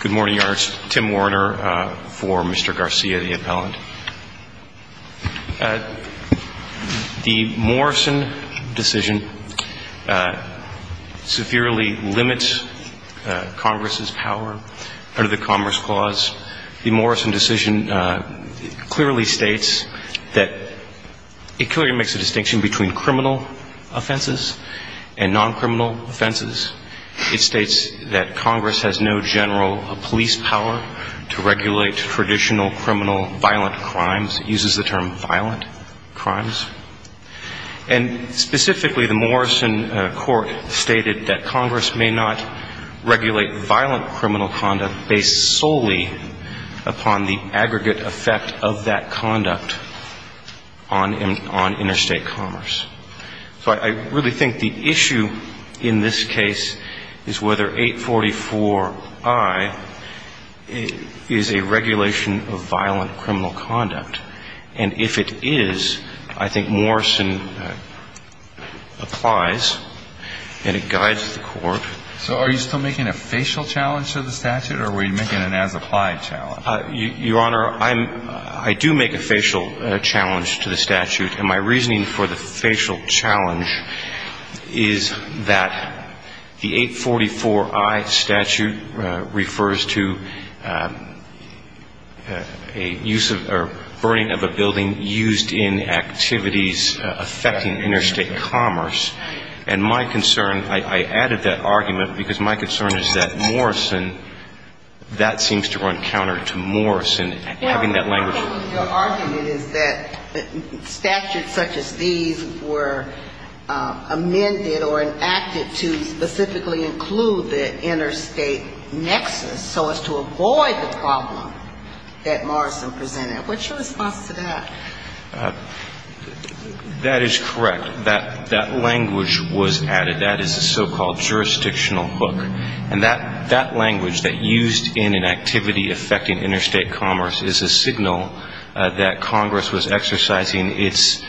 Good morning, Your Honor. Tim Warner for Mr. Garcia, the appellant. The Morrison decision severely limits Congress' power under the commerce clause. The Morrison decision clearly states that it clearly makes a distinction between criminal offenses and non-criminal offenses. It states that Congress has no general police power to regulate traditional criminal violent crimes. It uses the term violent crimes. And specifically, the Morrison court stated that Congress may not regulate violent criminal conduct based solely upon the aggregate effect of that conduct on interstate commerce. So I really think the issue in this case is whether 844I is a regulation of violent criminal conduct. And if it is, I think Morrison applies, and it guides the court. So are you still making a facial challenge to the statute, or were you making an as-applied challenge? Your Honor, I do make a facial challenge to the statute. And my reasoning for the facial challenge is that the 844I statute refers to a burning of a building used in activities affecting interstate commerce. And my concern, I added that argument because my concern is that Morrison, that seems to run counter to Morrison having that language. Your argument is that statutes such as these were amended or enacted to specifically include the interstate nexus so as to avoid the problem that Morrison presented. What's your response to that? That is correct. That language was added. That is a so-called jurisdictional hook. And that language that used in an activity affecting interstate commerce is a signal that Congress was exercising its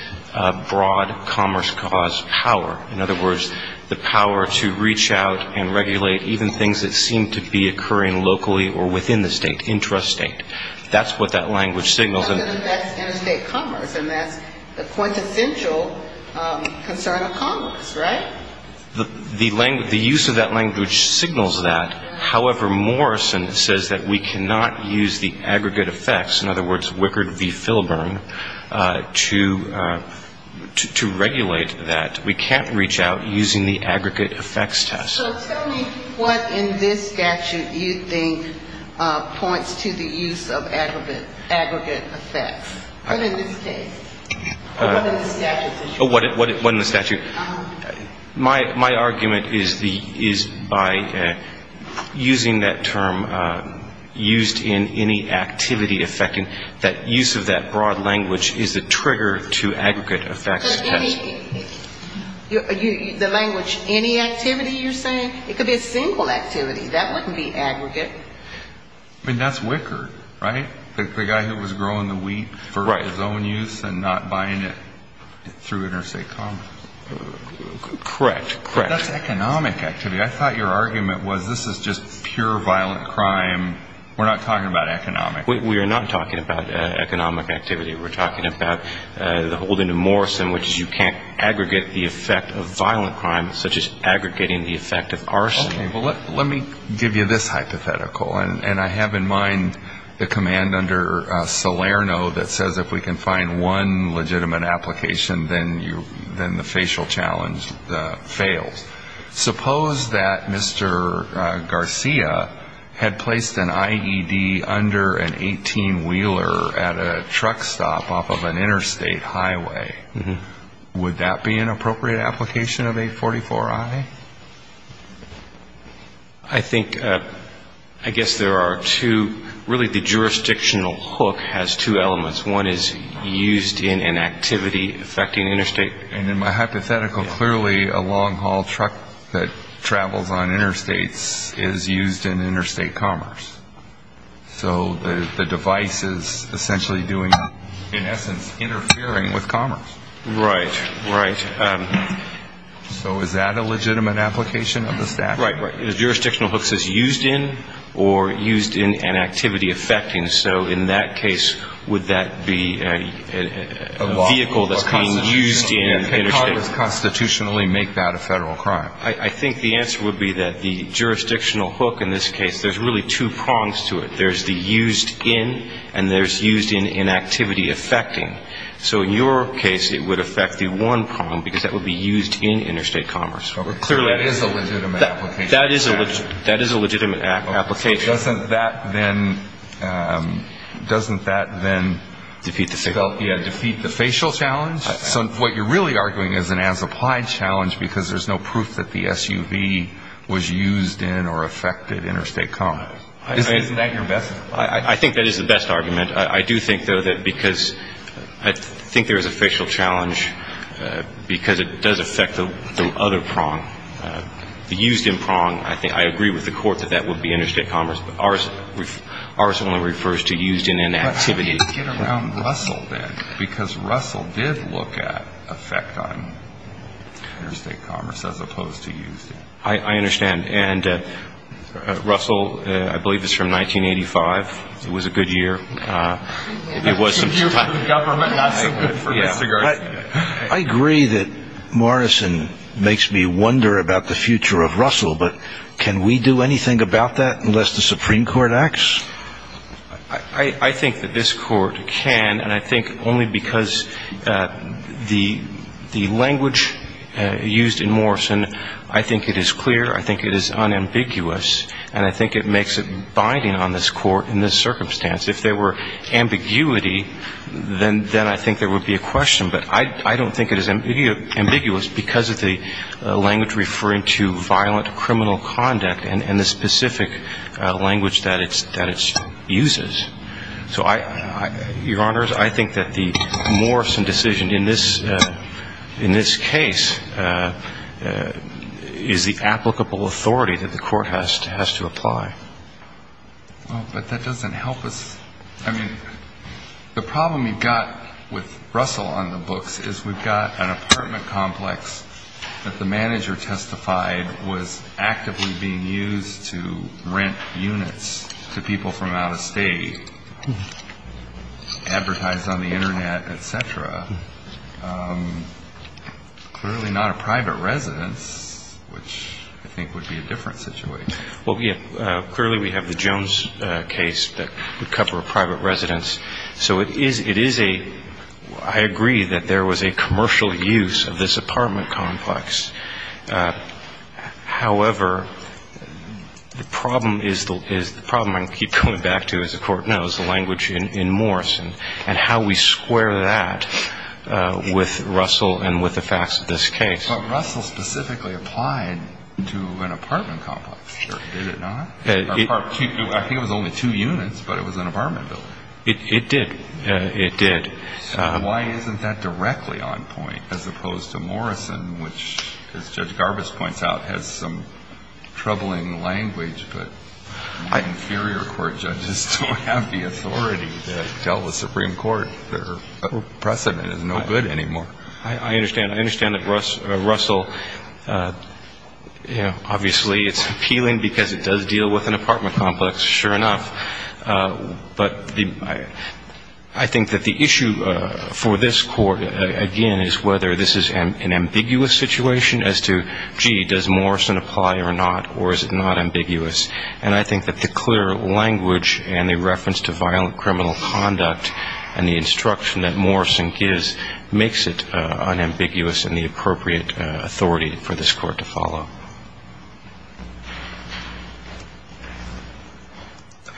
broad commerce cause power. In other words, the power to reach out and regulate even things that seem to be occurring locally or within the state, intrastate. That's what that language signals. That's interstate commerce, and that's the quintessential concern of Congress, right? The use of that language signals that. However, Morrison says that we cannot use the aggregate effects, in other words, Wickard v. Filburn, to regulate that. We can't reach out using the aggregate effects test. So tell me what in this statute you think points to the use of aggregate effects, or in this case. What in the statute? My argument is by using that term, used in any activity affecting, that use of that broad language is a trigger to aggregate effects test. The language, any activity you're saying? It could be a single activity. That wouldn't be aggregate. I mean, that's Wickard, right? The guy who was growing the wheat for his own use and not buying it through interstate commerce. Correct, correct. That's economic activity. I thought your argument was this is just pure violent crime. We're not talking about economic. We are not talking about economic activity. We're talking about the holding of Morrison, which is you can't aggregate the effect of violent crime such as aggregating the effect of arson. Okay, well, let me give you this hypothetical, and I have in mind the command under Salerno that says if we can find one legitimate application, then the facial challenge fails. Suppose that Mr. Garcia had placed an IED under an 18-wheeler at a truck stop off of an interstate highway. Would that be an appropriate application of 844I? I think, I guess there are two, really the jurisdictional hook has two elements. One is used in an activity affecting interstate. And in my hypothetical, clearly a long-haul truck that travels on interstates is used in interstate commerce. So the device is essentially doing, in essence, interfering with commerce. Right, right. So is that a legitimate application of the statute? Right, right. The jurisdictional hook says used in or used in an activity affecting. So in that case, would that be a vehicle that's being used in interstate? Can Congress constitutionally make that a Federal crime? I think the answer would be that the jurisdictional hook in this case, there's really two prongs to it. There's the used in and there's used in in activity affecting. So in your case, it would affect the one prong because that would be used in interstate commerce. But clearly that is a legitimate application. That is a legitimate application. Doesn't that then defeat the facial challenge? So what you're really arguing is an as-applied challenge because there's no proof that the SUV was Is that your best argument? I think that is the best argument. I do think, though, that because I think there is a facial challenge because it does affect the other prong. The used in prong, I agree with the court that that would be interstate commerce. Ours only refers to used in an activity. But how do you get around Russell then? Because Russell did look at effect on interstate commerce as opposed to used in. I understand. And Russell, I believe, is from 1985. It was a good year. I agree that Morrison makes me wonder about the future of Russell. But can we do anything about that unless the Supreme Court acts? I think that this court can. And I think only because the language used in Morrison, I think it is clear, I think it is unambiguous, and I think it makes it binding on this court in this circumstance. If there were ambiguity, then I think there would be a question. But I don't think it is ambiguous because of the language referring to violent criminal conduct and the specific language that it uses. So, Your Honors, I think that the Morrison decision in this case is the applicable authority that the court has to apply. But that doesn't help us. I mean, the problem we've got with Russell on the books is we've got an apartment complex that the manager testified was actively being used to rent units to people from out of state. Advertised on the Internet, et cetera. Clearly not a private residence, which I think would be a different situation. Clearly we have the Jones case that would cover a private residence. So it is a, I agree that there was a commercial use of this apartment complex. However, the problem is that is the problem I keep coming back to, as the Court knows, the language in Morrison and how we square that with Russell and with the facts of this case. But Russell specifically applied to an apartment complex, did it not? I think it was only two units, but it was an apartment building. It did. It did. So why isn't that directly on point as opposed to Morrison, which, as Judge Garbus points out, has some troubling language, but the inferior court judges don't have the authority to tell the Supreme Court their precedent is no good anymore. I understand. I understand that Russell, you know, obviously it's appealing because it does deal with an apartment complex, sure enough. But I think that the issue for this Court, again, is whether this is an ambiguous situation as to, gee, does Morrison apply or not, or is it not ambiguous? And I think that the clear language and the reference to violent criminal conduct and the instruction that Morrison gives makes it unambiguous and the appropriate authority for this Court to follow.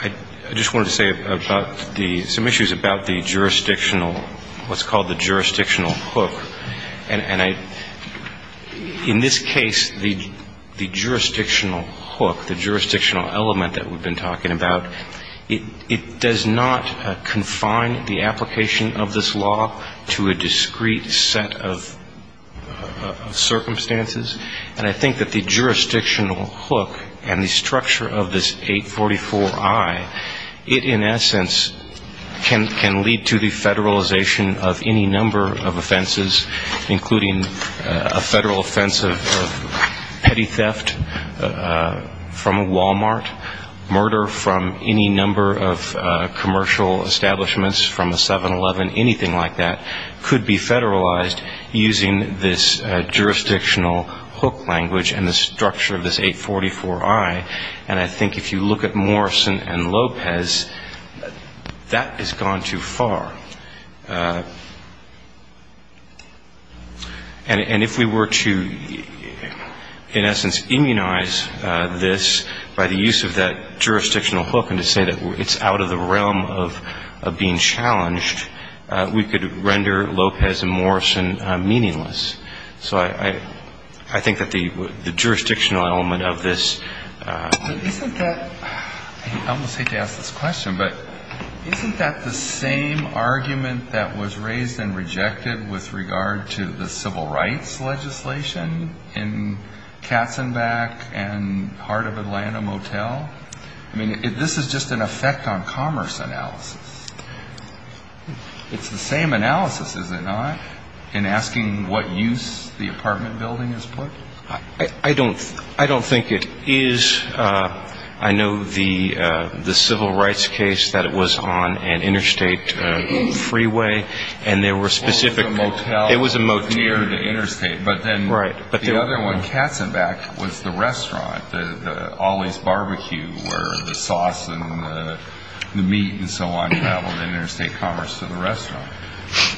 I just wanted to say about the – some issues about the jurisdictional – what's called the jurisdictional hook. And I – in this case, the jurisdictional hook, the jurisdictional element that we've been talking about, it does not confine the application of this law to a discrete set of circumstances. And I think that the jurisdictional hook and the structure of this 844I, it in essence can lead to the federalization of any number of offenses, including a federal offense of petty theft from a Walmart, murder from any number of commercial establishments from a 7-Eleven, anything like that, could be the jurisdictional hook language and the structure of this 844I. And I think if you look at Morrison and Lopez, that has gone too far. And if we were to, in essence, immunize this by the use of that jurisdictional hook and to say that it's out of the realm of being challenged, we could render Lopez and Morrison meaningless. So I think that the jurisdictional element of this – But isn't that – I almost hate to ask this question, but isn't that the same argument that was raised and rejected with regard to the civil rights legislation in Katzenbach and Heart of Atlanta Motel? I mean, this is just an effect on commerce analysis. It's the same analysis, is it not, in asking what use the apartment building is put? I don't think it is. I know the civil rights case that it was on an interstate freeway, and there were specific – It was a motel near the interstate. But then the other one, Katzenbach, was the restaurant, the Ollie's Barbecue, where the sauce and the meat and so on traveled interstate commerce to the restaurant.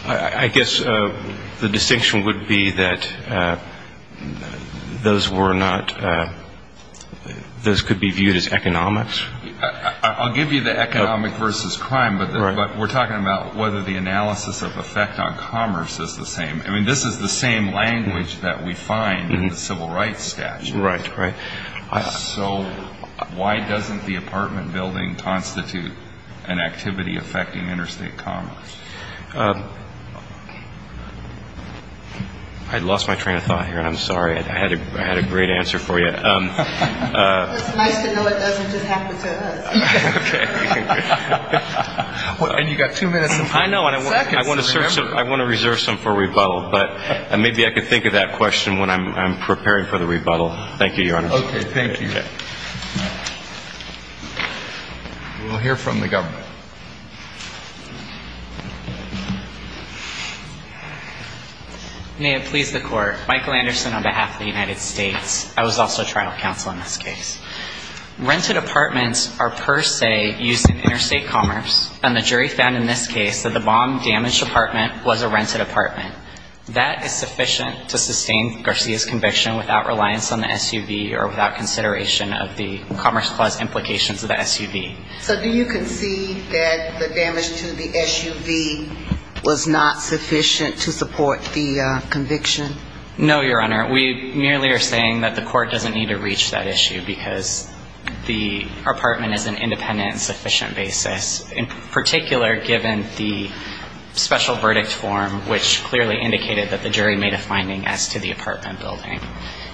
I guess the distinction would be that those were not – those could be viewed as economics? I'll give you the economic versus crime, but we're talking about whether the apartment building constitutes an activity affecting interstate commerce. I lost my train of thought here. I'm sorry. I had a great answer for you. It's nice to know it doesn't just happen to us. And you've got two minutes and five seconds. I want to reserve some for rebuttal, but maybe I can think of that question when I'm preparing for the rebuttal. Thank you, Your Honor. Okay. Thank you. We'll hear from the government. May it please the Court. Michael Anderson on behalf of the United States. I was also trial counsel in this case. Rented apartments are per se used in interstate commerce, and the jury found in this case that the bomb-damaged apartment was a rented apartment. That is sufficient to sustain Garcia's conviction without reliance on the SUV or without consideration of the Commerce Clause implications of the SUV. So do you concede that the damage to the SUV was not sufficient to support the conviction? No, Your Honor. We merely are saying that the Court doesn't need to reach that issue because the apartment is an independent and sufficient basis, in particular given the special verdict form, which clearly indicated that the jury made a finding as to the apartment building.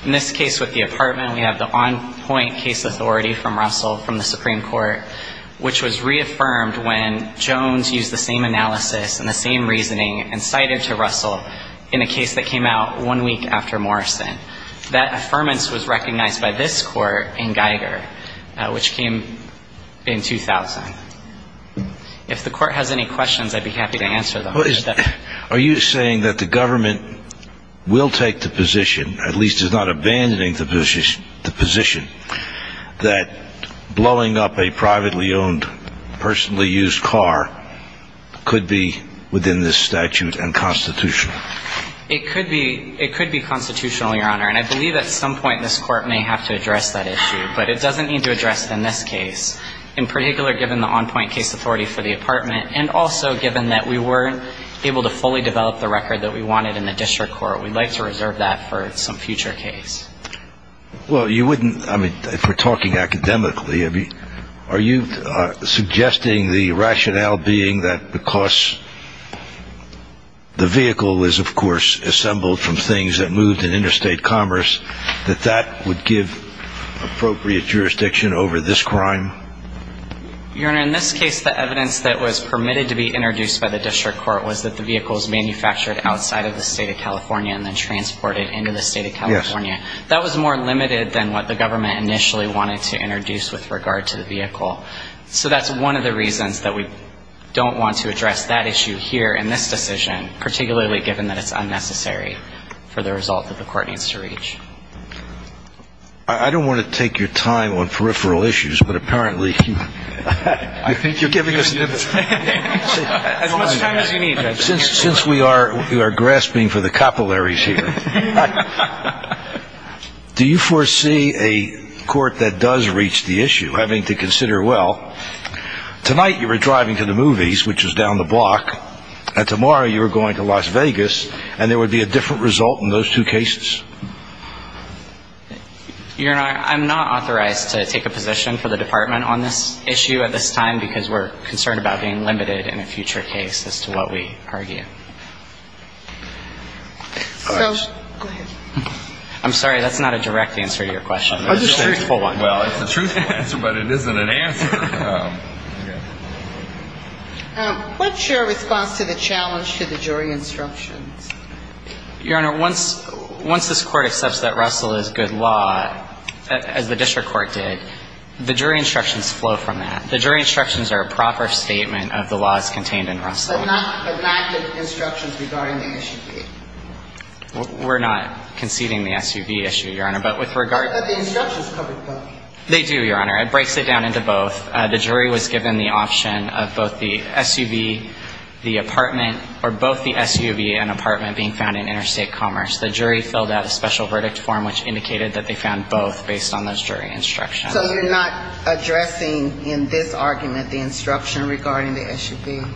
In this case with the apartment, we have the on-point case authority from Russell from the Supreme Court, which was reaffirmed when Jones used the same analysis and the same reasoning and cited to Russell in a case that came out one week after Morrison. That affirmance was recognized by this Court in Geiger, which came in 2000. If the Court has any questions, I'd be happy to answer them. Are you saying that the Government will take the position, at least is not abandoning the position, that blowing up a privately owned, personally used car could be within this statute and constitutional? It could be constitutional, Your Honor, and I believe at some point this Court may have to address that issue. But it doesn't need to address it in this case, in particular given the on-point case authority for the apartment and also given that we weren't able to fully develop the record that we wanted in the District Court. We'd like to reserve that for some future case. Well, you wouldn't, I mean, if we're talking academically, are you suggesting the rationale being that because the vehicle was, of course, assembled from things that moved in interstate commerce, that that would give appropriate jurisdiction over this crime? Your Honor, in this case, the evidence that was permitted to be introduced by the District Court was that the vehicle was manufactured outside of the State of California and then transported into the State of California. That was more limited than what the Government initially wanted to introduce with regard to the vehicle. So that's one of the reasons that we don't want to address that issue here in this decision, particularly given that it's unnecessary for the result that the Court needs to reach. I don't want to take your time on peripheral issues, but apparently you're giving us time. As much time as you need. Since we are grasping for the capillaries here, do you foresee a court that does reach the issue having to consider, well, tonight you were driving to the movies, which is down the block, and tomorrow you were going to Las Vegas, and there would be a different result in those two cases? Your Honor, I'm not authorized to take a position for the Department on this issue at this time, because we're concerned about being limited in a future case as to what we argue. I'm sorry, that's not a direct answer to your question. Well, it's a truthful answer, but it isn't an answer. What's your response to the challenge to the jury instructions? Your Honor, once this Court accepts that Russell is good law, as the District Court did, the jury instructions flow from that. The jury instructions are a proper statement of the laws contained in Russell. But not the instructions regarding the SUV? We're not conceding the SUV issue, Your Honor, but with regard to But the instructions cover both. They do, Your Honor. It breaks it down into both. The jury was given the option of both the SUV, the apartment, or both the SUV and apartment being found in Interstate Commerce. The jury filled out a special verdict form which indicated that they found both based on those jury instructions. So you're not addressing in this argument the instruction regarding the SUV?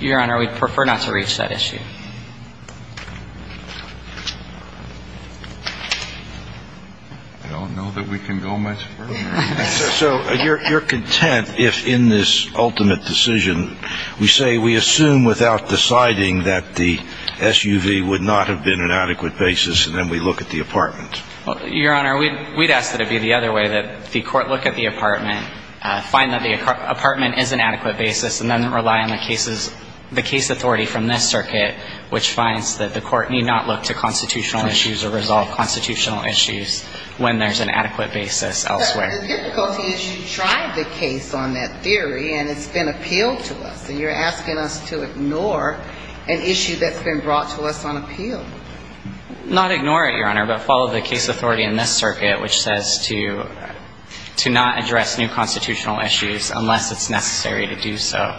Your Honor, we'd prefer not to reach that issue. I don't know that we can go much further. So you're content if in this ultimate decision we say we assume without deciding that the SUV would not have been an adequate basis and then we look at the apartment? Your Honor, we'd ask that it be the other way, that the Court look at the apartment, find that the apartment is an adequate basis, and then rely on the case authority from this circuit which finds that the Court need not look to constitutional issues or resolve constitutional issues when there's an adequate basis elsewhere. The difficulty is you tried the case on that to us, and you're asking us to ignore an issue that's been brought to us on appeal. Not ignore it, Your Honor, but follow the case authority in this circuit which says to not address new constitutional issues unless it's necessary to do so.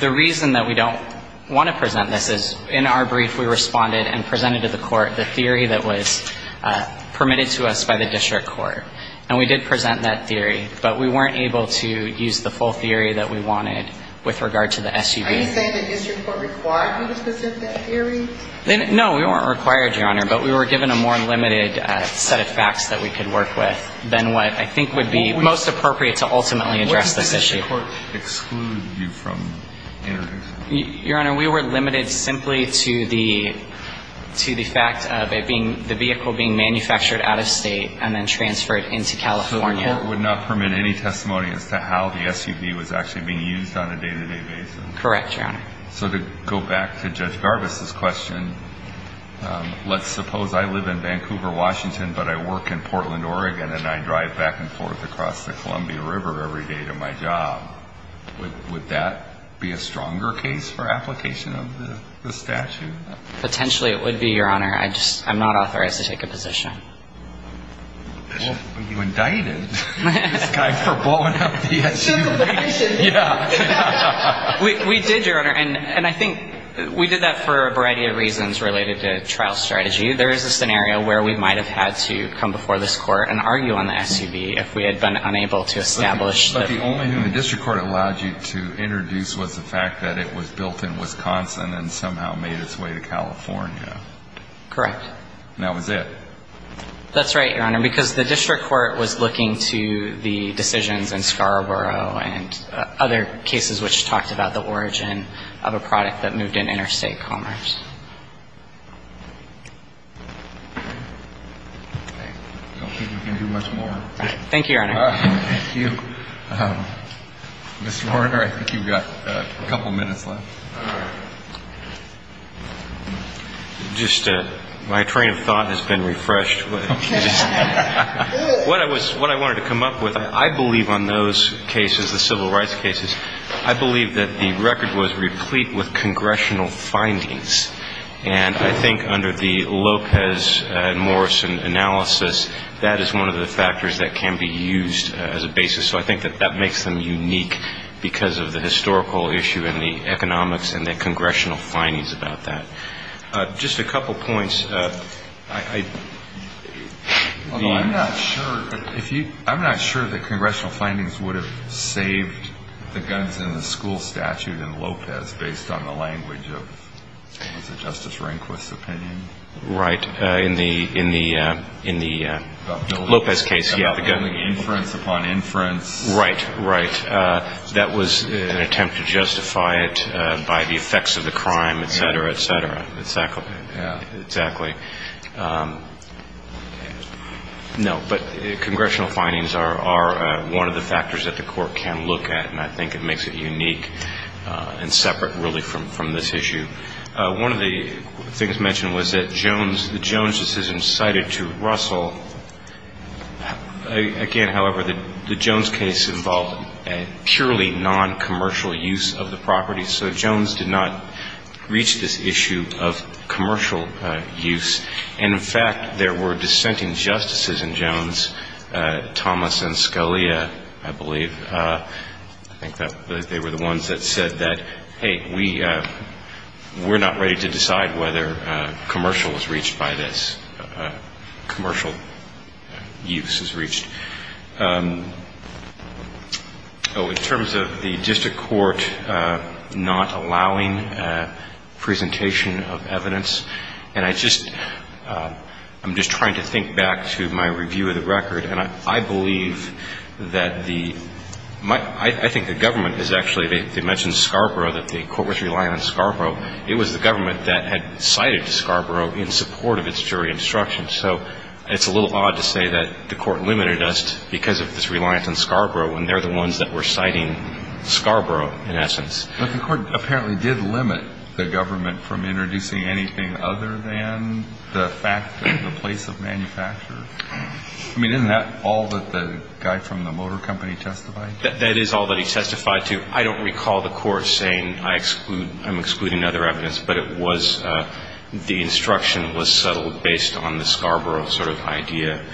The reason that we don't want to present this is in our brief we responded and presented to the Court the theory that was permitted to us by the District Court. And we did present that theory, but we weren't able to with regard to the SUV. No, we weren't required, Your Honor, but we were given a more limited set of facts that we could work with than what I think would be most appropriate to ultimately address this issue. Your Honor, we were limited simply to the fact of the vehicle being manufactured out of state and then transferred into California. So the Court would not permit any testimony as to how the SUV was actually being used on a day-to-day basis? Correct, Your Honor. So to go back to Judge Garbus' question, let's suppose I live in Vancouver, Washington, but I work in Portland, Oregon, and I drive back and forth across the Columbia River every day to my job. Would that be a stronger case for application of the statute? Potentially it would be, Your Honor. I'm not authorized to take a position. Well, you indicted this guy for blowing up the SUV. We did, Your Honor, and I think we did that for a variety of reasons related to trial strategy. There is a scenario where we might have had to come before this Court and argue on the SUV if we had been unable to establish But the only thing the District Court allowed you to introduce was the fact that it was built in Wisconsin and somehow made its way to California. Correct. And that was it. That's right, Your Honor, because the District Court was looking to the decisions in Scarborough and other cases which talked about the origin of a product that moved in interstate commerce. I don't think we can do much more. Thank you, Your Honor. Thank you. Mr. Warner, I think you've got a couple minutes left. Just my train of thought has been refreshed. What I wanted to come up with, I believe on those cases, the civil rights cases, I believe that the record was replete with congressional findings. And I think under the Lopez and Morrison analysis, that is one of the factors that can be used as a basis. So I think that that makes them unique because of the historical issue and the economics and the congressional findings about that. Just a couple points. I'm not sure that congressional findings would have saved the guns in the school statute in Lopez based on the language of Justice Rehnquist's opinion. Right. In the Lopez case. About building inference upon inference. Right. That was an attempt to justify it by the effects of the crime, etc., etc. Exactly. No, but congressional findings are one of the factors that the court can look at and I think it makes it unique and separate really from this issue. One of the things mentioned was that Jones incited to Russell, again, however, the Jones case involved purely non-commercial use of the property. So Jones did not reach this issue of commercial use. And in fact, there were dissenting justices in Jones, Thomas and Scully, I believe. I think they were the ones that said that hey, we're not ready to decide whether commercial was reached by this. Commercial use is reached. In terms of the district court not allowing presentation of evidence, I'm just trying to think back to my review of the record and I believe that the I think the government is actually, they mentioned Scarborough, that the court was relying on Scarborough. It was the government that had cited Scarborough in support of its jury instruction. So it's a little odd to say that the court limited us because of its reliance on Scarborough when they're the ones that were citing Scarborough in essence. But the court apparently did limit the government from introducing anything other than the fact of the place of manufacture. I mean, isn't that all that the guy from the motor company testified to? That is all that he testified to. I don't recall the court saying I exclude, I'm excluding other evidence, but it was the instruction was settled based on the Scarborough sort of idea.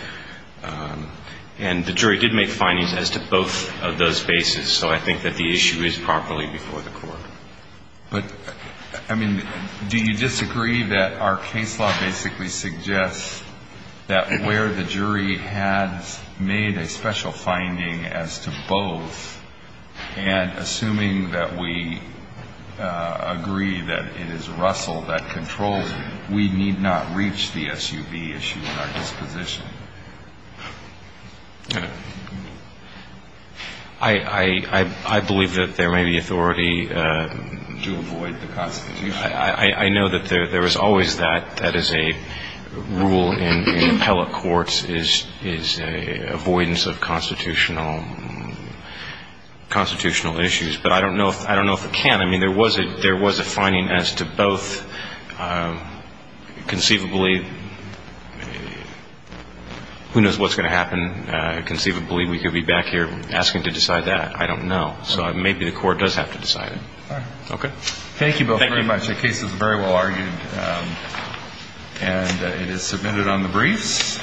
And the jury did make findings as to both of those bases. So I think that the issue is properly before the court. But, I mean, do you disagree that our case law basically suggests that where the jury has made a special finding as to both and assuming that we agree that it is Russell that controls it, we need not reach the SUV issue at our disposition? I believe that there may be authority to avoid the Constitution. I know that there is always that. That is a rule in appellate courts is avoidance of constitutional issues. But I don't know if it can. I mean, there was a finding as to both conceivably who knows what's going to happen conceivably. We could be back here asking to decide that. I don't know. So maybe the court does have to decide it. Thank you both very much. The case is very well argued. And it is submitted on the briefs.